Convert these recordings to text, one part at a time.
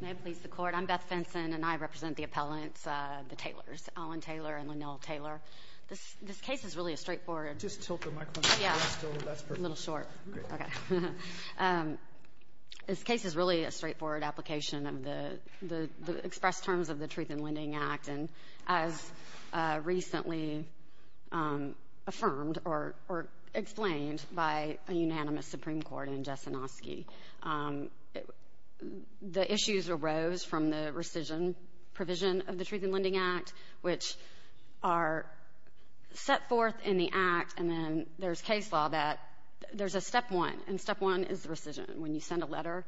May it please the Court, I'm Beth Finson and I represent the appellants, the Taylors, Alan Taylor and Linnell Taylor. This this case is really a straightforward. Just tilt the microphone a little short. This case is really a straightforward application of the the expressed terms of the Truth in Lending Act and as recently affirmed or explained by a unanimous Supreme Court in the issues arose from the rescission provision of the Truth in Lending Act which are set forth in the act and then there's case law that there's a step one and step one is the rescission. When you send a letter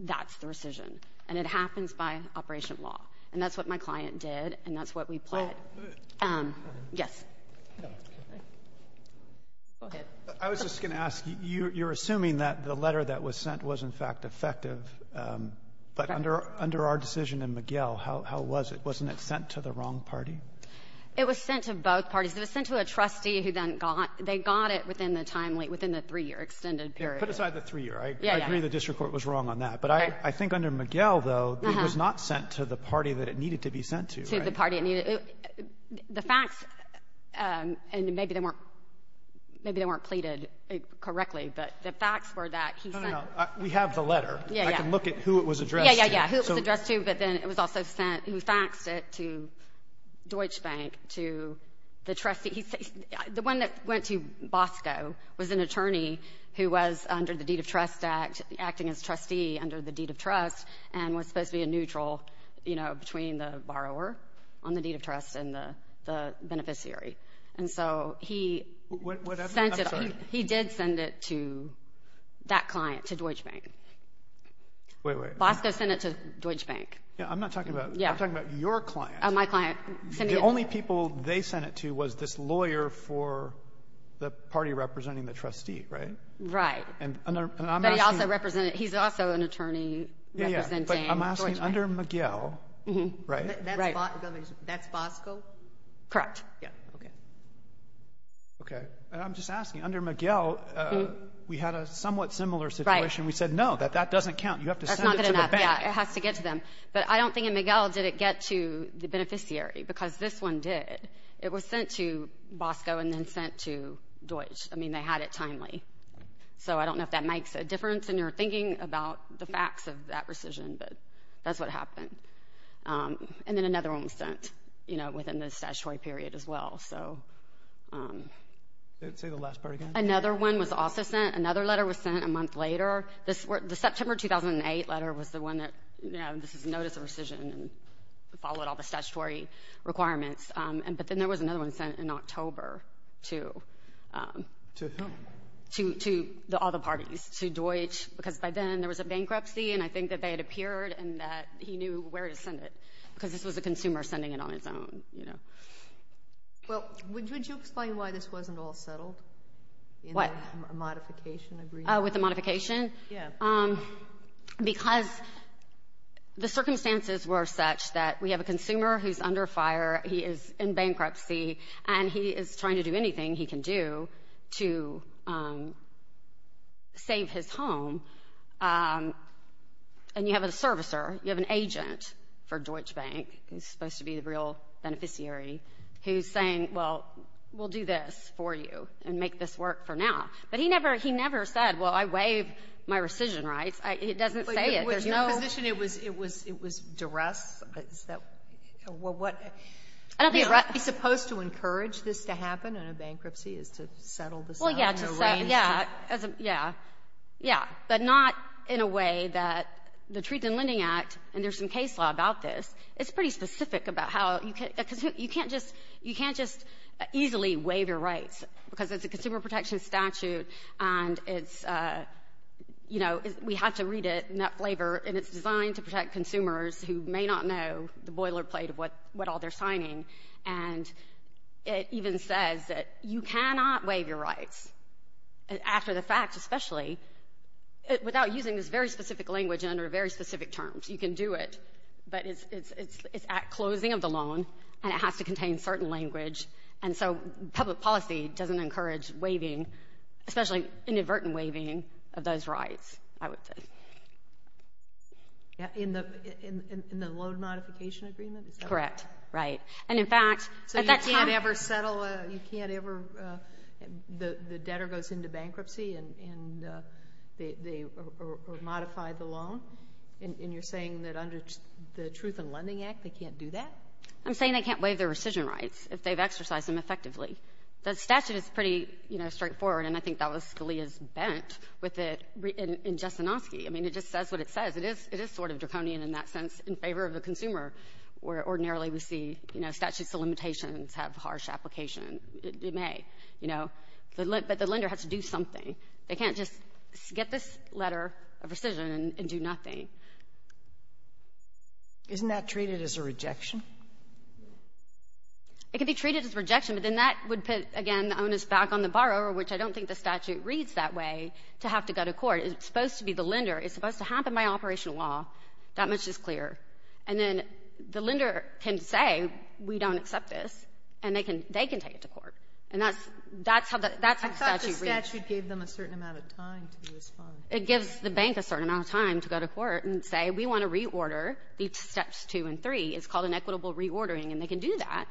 that's the rescission and it happens by operation law and that's what my client did and that's what we planned. Yes. I was just gonna ask you you're assuming that the letter that was sent was in fact effective but under under our decision in McGill how how was it? Wasn't it sent to the wrong party? It was sent to both parties. It was sent to a trustee who then got they got it within the timely within the three-year extended period. Put aside the three-year. I agree the district court was wrong on that but I I think under McGill though it was not sent to the party that it needed to be sent to. To the party it needed. The facts and maybe they weren't maybe they weren't pleaded correctly but the facts were that he sent. We have the letter. Yeah. I can look at who it was addressed to. Yeah yeah yeah who it was addressed to but then it was also sent who faxed it to Deutsche Bank to the trustee. The one that went to Bosco was an attorney who was under the Deed of Trust Act acting as trustee under the Deed of Trust and was supposed to be a neutral you know between the borrower on the Deed of Trust and the beneficiary and so he he did send it to that client to Deutsche Bank. Wait wait. Bosco sent it to Deutsche Bank. Yeah I'm not talking about. Yeah. I'm talking about your client. Oh my client. The only people they sent it to was this lawyer for the party representing the trustee right? Right. And I'm asking. But he also represented he's also an attorney. Yeah yeah but I'm asking under McGill. Mm-hmm. Right. That's Bosco? Correct. Yeah okay. Okay and I'm just asking under McGill we had a somewhat similar situation. We said no that that doesn't count. You have to send it to the bank. It has to get to them but I don't think in McGill did it get to the beneficiary because this one did. It was sent to Bosco and then sent to Deutsche. I mean they had it timely. So I don't know if that makes a difference and you're and then another one was sent you know within the statutory period as well. So say the last part again. Another one was also sent. Another letter was sent a month later. This were the September 2008 letter was the one that you know this is notice of rescission and followed all the statutory requirements and but then there was another one sent in October too. To whom? To all the parties. To Deutsche because by then there was a bankruptcy and I think that they had appeared and that he knew where to send it because this was a consumer sending it on its own you know. Well would you explain why this wasn't all settled? What? With the modification? Yeah. Because the circumstances were such that we have a consumer who's under fire. He is in bankruptcy and he is trying to do You have an agent for Deutsche Bank who's supposed to be the real beneficiary who's saying well we'll do this for you and make this work for now. But he never he never said well I waive my rescission rights. It doesn't say it. There's no position it was it was it was duress. Is that what I don't think right he's supposed to encourage this to happen in a bankruptcy is to settle this. Well yeah yeah yeah yeah but not in a way that the Treatment and Lending Act and there's some case law about this it's pretty specific about how you can't you can't just you can't just easily waive your rights because it's a consumer protection statute and it's you know we have to read it in that flavor and it's designed to protect consumers who may not know the boilerplate of what what all they're rights after the fact especially without using this very specific language under very specific terms you can do it but it's it's it's at closing of the loan and it has to contain certain language and so public policy doesn't encourage waiving especially inadvertent waiving of those rights I would say. Yeah in the in the loan modification agreement? Correct right and in fact at that time. So you can't ever settle you can't ever the debtor goes into bankruptcy and and they modify the loan and you're saying that under the Truth and Lending Act they can't do that? I'm saying they can't waive their rescission rights if they've exercised them effectively. The statute is pretty you know straightforward and I think that was Scalia's bent with it in Jastrzenowski I mean it just says what it says it is it is sort of draconian in that sense in that ordinarily we see you know statutes of limitations have harsh application it may you know but the lender has to do something they can't just get this letter of rescission and do nothing. Isn't that treated as a rejection? It can be treated as rejection but then that would put again the onus back on the borrower which I don't think the statute reads that way to have to go to court it's supposed to be the lender it's supposed to happen by operational law that much is clear and then the lender can say we don't accept this and they can they can take it to court and that's that's how the that's how the statute reads. I thought the statute gave them a certain amount of time to respond. It gives the bank a certain amount of time to go to court and say we want to reorder these steps two and three it's called an equitable reordering and they can do that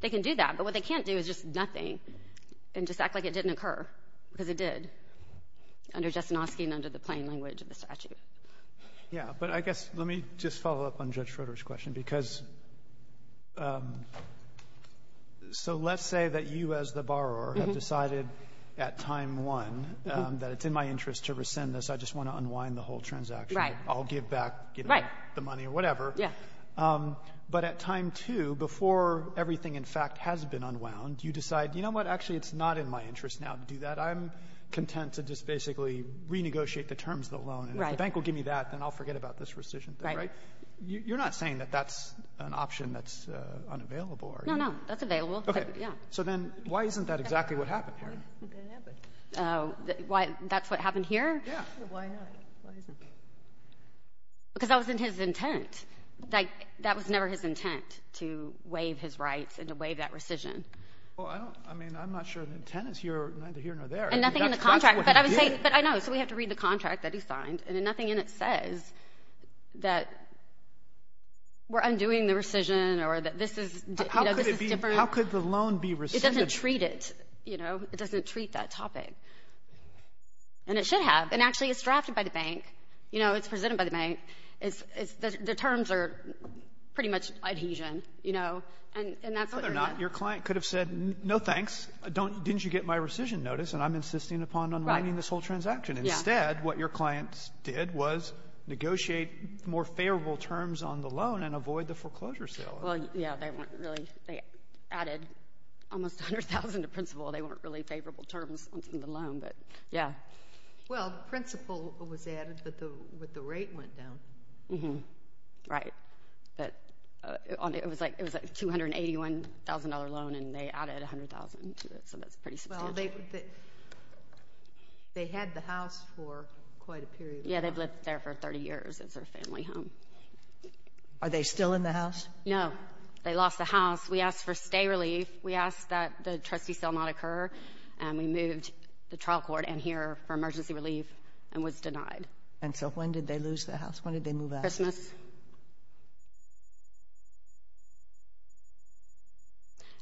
they can do that but what they can't do is just nothing and just act like it didn't occur because it did under Jastrzynowski and under the plain language of the statute. Yeah but I guess let me just follow up on Judge Schroeder's question because so let's say that you as the borrower have decided at time one that it's in my interest to rescind this I just want to unwind the whole transaction I'll give back the money or whatever but at time two before everything in fact has been unwound you decide you know what actually it's not in my interest now to do that I'm content to just basically renegotiate the terms of the loan and if the bank will give me that then I'll forget about this rescission thing right you're not saying that that's an option that's unavailable are you no no that's available okay yeah so then why isn't that exactly what happened here oh why that's what happened here yeah why not because that was in his intent like that was never his intent to waive his rights and to waive that rescission well I mean I'm not sure the tenants here neither here nor there and nothing in the contract but I would say but I know so we have to read the contract that he signed and nothing in it says that we're undoing the rescission or that this is how could the loan be rescinded it doesn't treat it you know it doesn't treat that topic and it should have and actually it's drafted by the bank you know it's presented by the bank it's the terms are pretty much adhesion you know and that's what they're not your client could have said no thanks don't didn't you get my rescission notice and I'm insisting upon on writing this whole transaction instead what your clients did was negotiate more favorable terms on the loan and avoid the foreclosure sale well yeah they weren't really they added almost a hundred thousand to principal they weren't really favorable terms on the loan but yeah well principal was added but the with the rate went down mm-hmm right but it was like it was like two hundred eighty one thousand dollar loan and they added a hundred thousand to it so that's pretty well they they had the house for quite a period yeah they've lived there for thirty years as their family home are they still in the house no they lost the house we asked for stay relief we asked that the trustee still not occur and we moved the trial court and here for emergency relief and was denied and so when did they lose the house when did they move a Christmas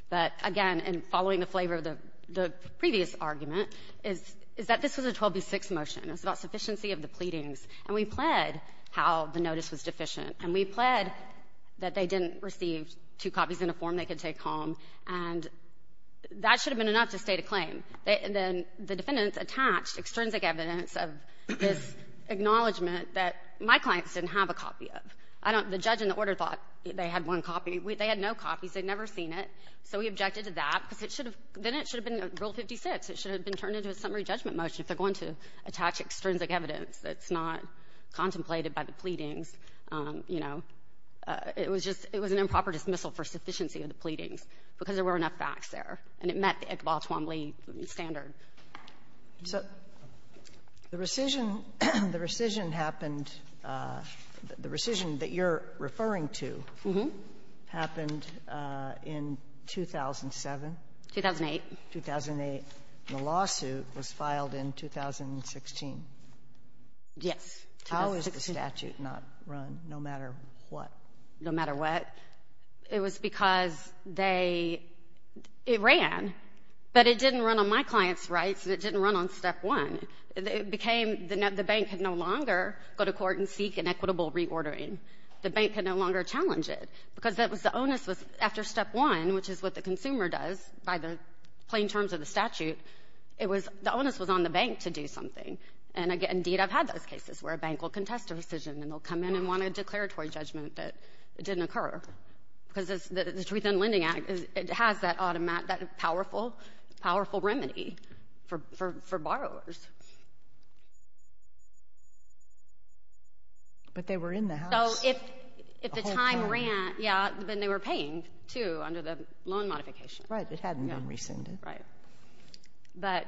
but again and following the flavor of the the previous argument is is that this was a 12b6 motion it's about sufficiency of the pleadings and we pled how the notice was deficient and we pled that they didn't receive two copies in a form they could take home and that should have been enough to state a claim they and then the defendants attached extrinsic evidence of this acknowledgment that my clients didn't have a copy of I don't the judge in the order thought they had one copy we they had no copies they'd never seen it so we objected to that because it should have been it should have been rule 56 it should have been turned into a summary judgment motion if they're going to attach extrinsic evidence that's not contemplated by the pleadings you know it was just it was an improper dismissal for sufficiency of the pleadings because there were enough facts there and it met the Iqbal-Tuamly standard. So the rescission the rescission happened the rescission that you're referring to mm-hmm happened in 2007 2008 2008 the lawsuit was filed in 2016 yes how is the statute not run no matter what no matter what it was because they it ran but it didn't run on my clients rights and it didn't run on step one it became the net the bank had no longer go to court and seek an equitable reordering the bank had no longer challenge it because that was the onus was after step one which is what the consumer does by the plain terms of the statute it was the onus was on the bank to do something and again indeed I've had those cases where a bank will contest a decision and they'll come in and want a declaratory judgment that it didn't occur because it's the Truth in Lending Act is it has that automatic that powerful powerful remedy for for for borrowers but they were in the house so if if the time ran yeah then they were paying to under the loan modification right it hadn't been rescinded right but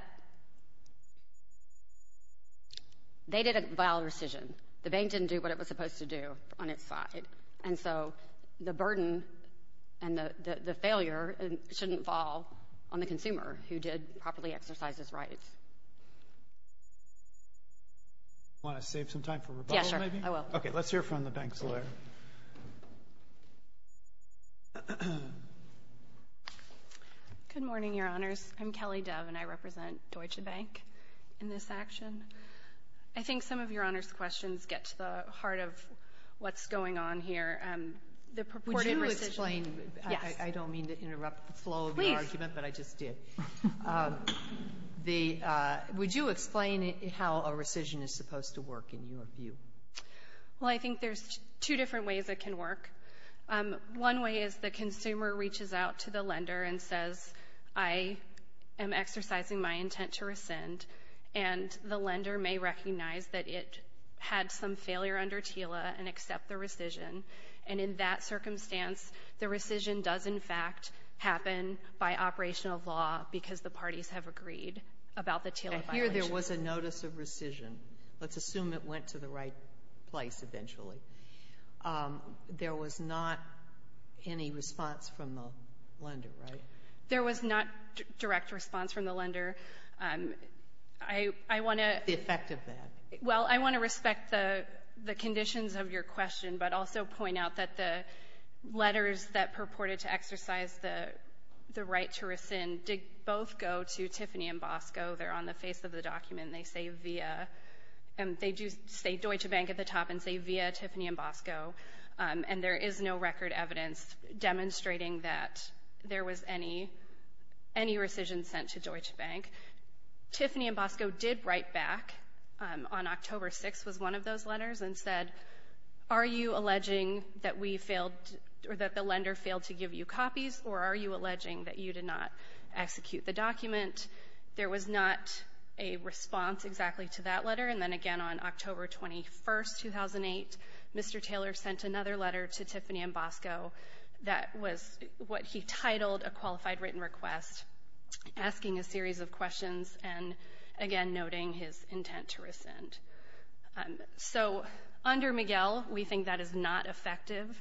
they did a vile rescission the bank didn't do what it was supposed to do on its side and so the burden and the the failure and shouldn't fall on the consumer who did properly exercise his rights want to save some time for yes good morning your honors I'm Kelly Dove and I represent Deutsche Bank in this action I think some of your honors questions get to the heart of what's going on here and the purported recession I don't mean to interrupt the flow of the argument but I just did the would you explain it how a rescission is supposed to work in your view well I think there's two different ways it can work one way is the consumer reaches out to the lender and says I am exercising my intent to rescind and the lender may recognize that it had some failure under TILA and accept the rescission and in that circumstance the rescission does in fact happen by operational law because the parties have agreed about the TILA here there was a notice of rescission let's there was not any response from the lender right there was not direct response from the lender I want to the effect of that well I want to respect the the conditions of your question but also point out that the letters that purported to exercise the the right to rescind did both go to Tiffany and Bosco they're on the face of the document they say via and they do say Deutsche Bank at the top and say via Tiffany and Bosco and there is no record evidence demonstrating that there was any any rescission sent to Deutsche Bank Tiffany and Bosco did write back on October 6 was one of those letters and said are you alleging that we failed or that the lender failed to give you copies or are you alleging that you did not execute the document there was not a response exactly to that letter and then again on October 21st 2008 Mr. Taylor sent another letter to Tiffany and Bosco that was what he titled a qualified written request asking a series of questions and again noting his intent to rescind so under Miguel we think that is not effective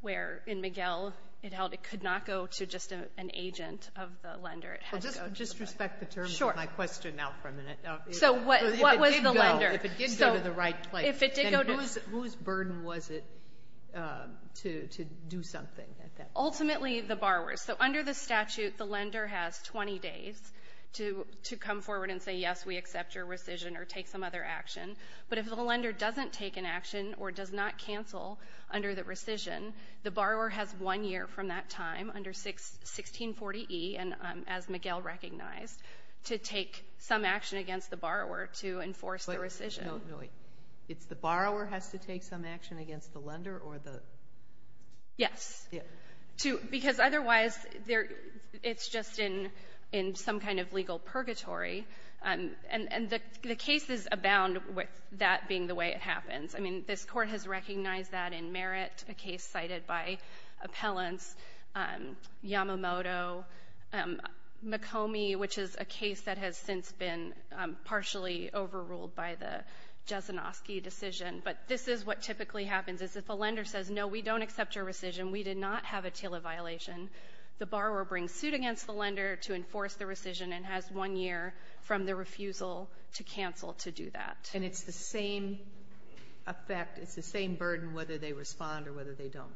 where in Miguel it held it could not go to just an agent of the lender it had just respect the terms of my question now for a minute so what what was the lender if it did go to the right place if it did go to whose burden was it um to to do something at that ultimately the borrowers so under the statute the lender has 20 days to to come forward and say yes we accept your rescission or take some other action but if the lender doesn't take an action or does not cancel under the rescission the borrower has one year from that time under 6 1640e and um as Miguel recognized to take some action against the borrower to enforce the rescission it's the borrower has to take some action against the lender or the yes to because otherwise there it's just in in some kind of legal purgatory um and and the the cases abound with that being the way it happens i mean this court has recognized that in merit a case cited by appellants um yamamoto um mokomi which is a case that has since been um partially overruled by the jasinoski decision but this is what typically happens is if a lender says no we don't accept your rescission we did not have a tila violation the borrower brings suit against the lender to enforce the rescission and has one year from the refusal to cancel to do that and it's the same effect it's the same burden whether they respond or whether they don't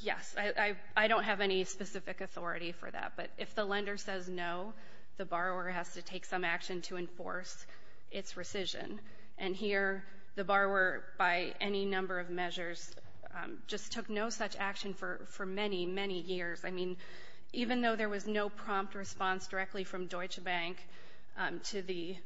yes i i don't have any specific authority for that but if the lender says no the borrower has to take some action to enforce its rescission and here the borrower by any number of measures just took no such action for for many many years i mean even though there was no prompt response directly from deutsche bank to the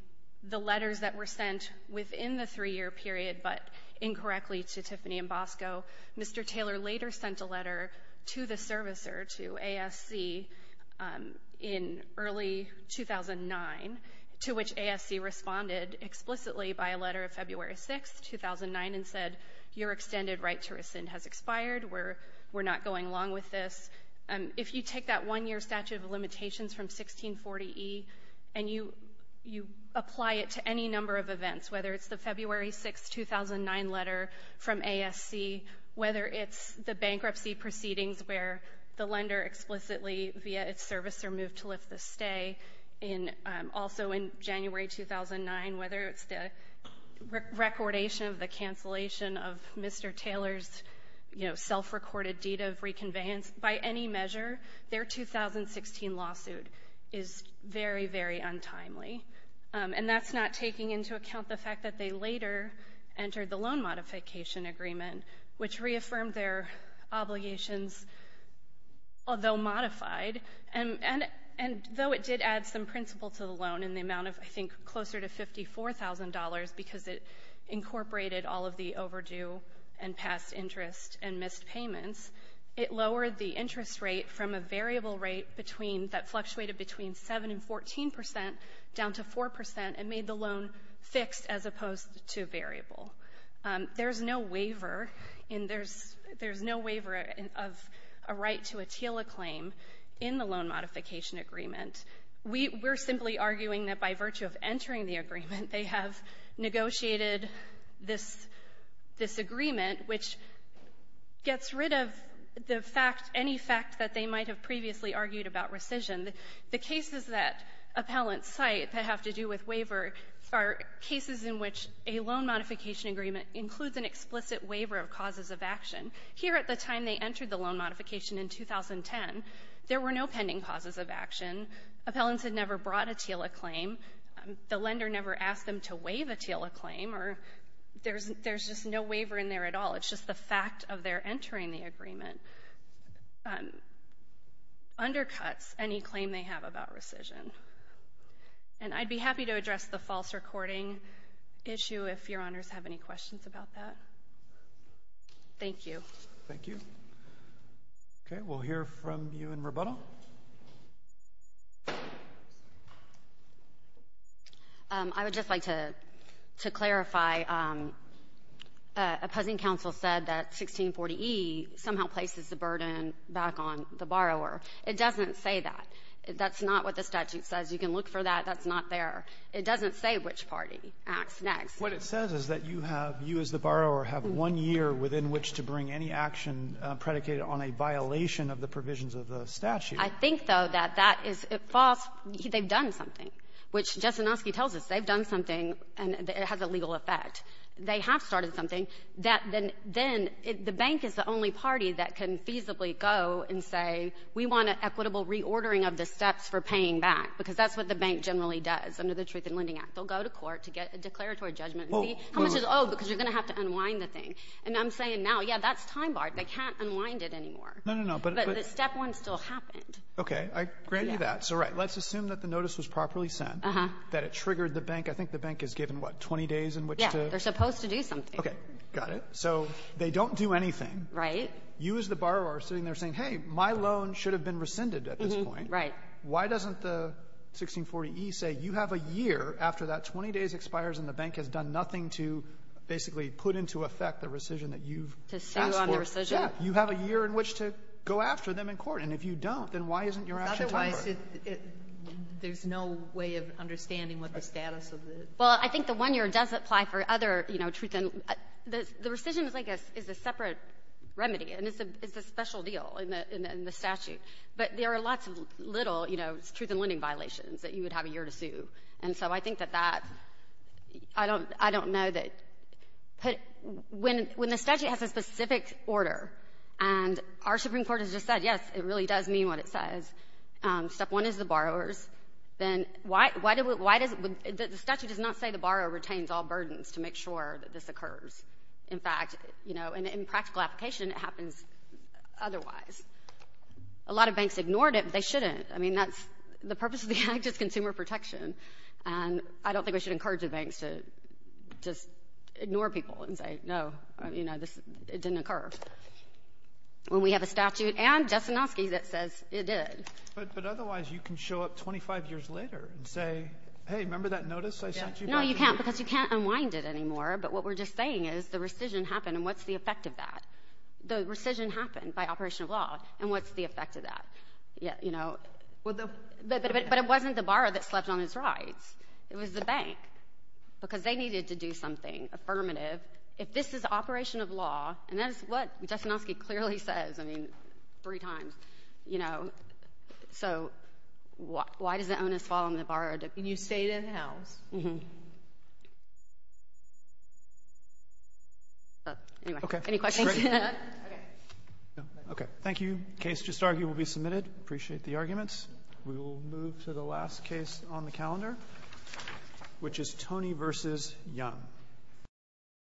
the letters that were sent within the three-year period but incorrectly to tiffany and bosco mr taylor later sent a letter to the servicer to asc in early 2009 to which asc responded explicitly by a letter of february 6 2009 and said your extended right to rescind has expired we're we're not going along with this um if you take that one-year statute of limitations from 1640e and you you apply it to any number of events whether it's the february 6 2009 letter from asc whether it's the bankruptcy proceedings where the lender explicitly via its servicer moved to lift the stay in also in january 2009 whether it's the recordation of the cancellation of mr taylor's you know self-recorded deed of reconveyance by any their 2016 lawsuit is very very untimely and that's not taking into account the fact that they later entered the loan modification agreement which reaffirmed their obligations although modified and and and though it did add some principle to the loan in the amount of i think closer to fifty four thousand dollars because it incorporated all of the overdue and past interest and missed payments it lowered the interest rate from a variable rate between that fluctuated between 7 and 14 percent down to four percent and made the loan fixed as opposed to variable there's no waiver in there's there's no waiver of a right to a teal acclaim in the loan modification agreement we we're simply arguing that by virtue of entering the agreement they have negotiated this this agreement which gets rid of the fact any fact that they might have previously argued about rescission the cases that appellants cite that have to do with waiver are cases in which a loan modification agreement includes an explicit waiver of causes of action here at the time they entered the loan modification in 2010 there were no pending causes of action appellants had never brought a teal acclaim the lender never asked them to waive a teal acclaim or there's there's just no waiver in there at all it's just the fact of their entering the agreement undercuts any claim they have about rescission and i'd be happy to address the false recording issue if your honors have any questions about that thank you thank you okay we'll hear from you in rebuttal um i would just like to to clarify um opposing council said that 1640e somehow places the burden back on the borrower it doesn't say that that's not what the statute says you can look for that that's not there it doesn't say which party acts next what it says is that you have you as the borrower have one year within which to bring any action predicated on a violation of the provisions of the statute i think though that that is it false they've done something which jessanoski tells us they've done something and it has a legal effect they have started something that then then the bank is the only party that can feasibly go and say we want an equitable reordering of the steps for paying back because that's what the bank generally does under the truth in lending act they'll go to court to get a declaratory judgment see how much is oh because you're going to have to unwind the thing and i'm saying now yeah that's time barred they can't unwind it anymore no no but the step one still happened okay i grant you that so right let's assume that the notice was properly sent that it triggered the bank i think the bank is given what 20 days in which they're supposed to do something okay got it so they don't do anything right you as the borrower sitting there saying hey my loan should have been rescinded at this point right why doesn't the 1640e say you have a year after that 20 days expires and the bank has done nothing to basically put into effect the rescission that you've asked for yeah you have a year in which to go after them in court and if you don't then why isn't your action there's no way of understanding what the status of the well i think the one year does apply for other you know truth and the the rescission is like a is a separate remedy and it's a it's a special deal in the in the statute but there are lots of little you know truth and lending violations that you would have a year to sue and so i think that that i don't i don't know that put when when the statute has a specific order and our supreme court has just said yes it really does mean what it says um step one is the borrowers then why why do why does the statute does not say the borrower retains all burdens to make sure that this occurs in fact you know and in practical application it happens otherwise a lot of banks ignored it they shouldn't i mean that's the purpose of the act is consumer protection and i don't think we should encourage the banks to just ignore people and say no you know this it didn't occur when we have a statute and justin oski that says it did but otherwise you can show up 25 years later and say hey remember that notice i sent you no you can't because you can't unwind it anymore but what we're just saying is the rescission happened and what's the effect of that the rescission happened by operation of law and what's the borrower that slept on his rides it was the bank because they needed to do something affirmative if this is the operation of law and that is what justin oski clearly says i mean three times you know so why does the onus fall on the borrowed you stayed in the house anyway okay any questions okay okay thank you case just argued will be submitted appreciate the arguments we will move to the last case on the calendar which is tony versus young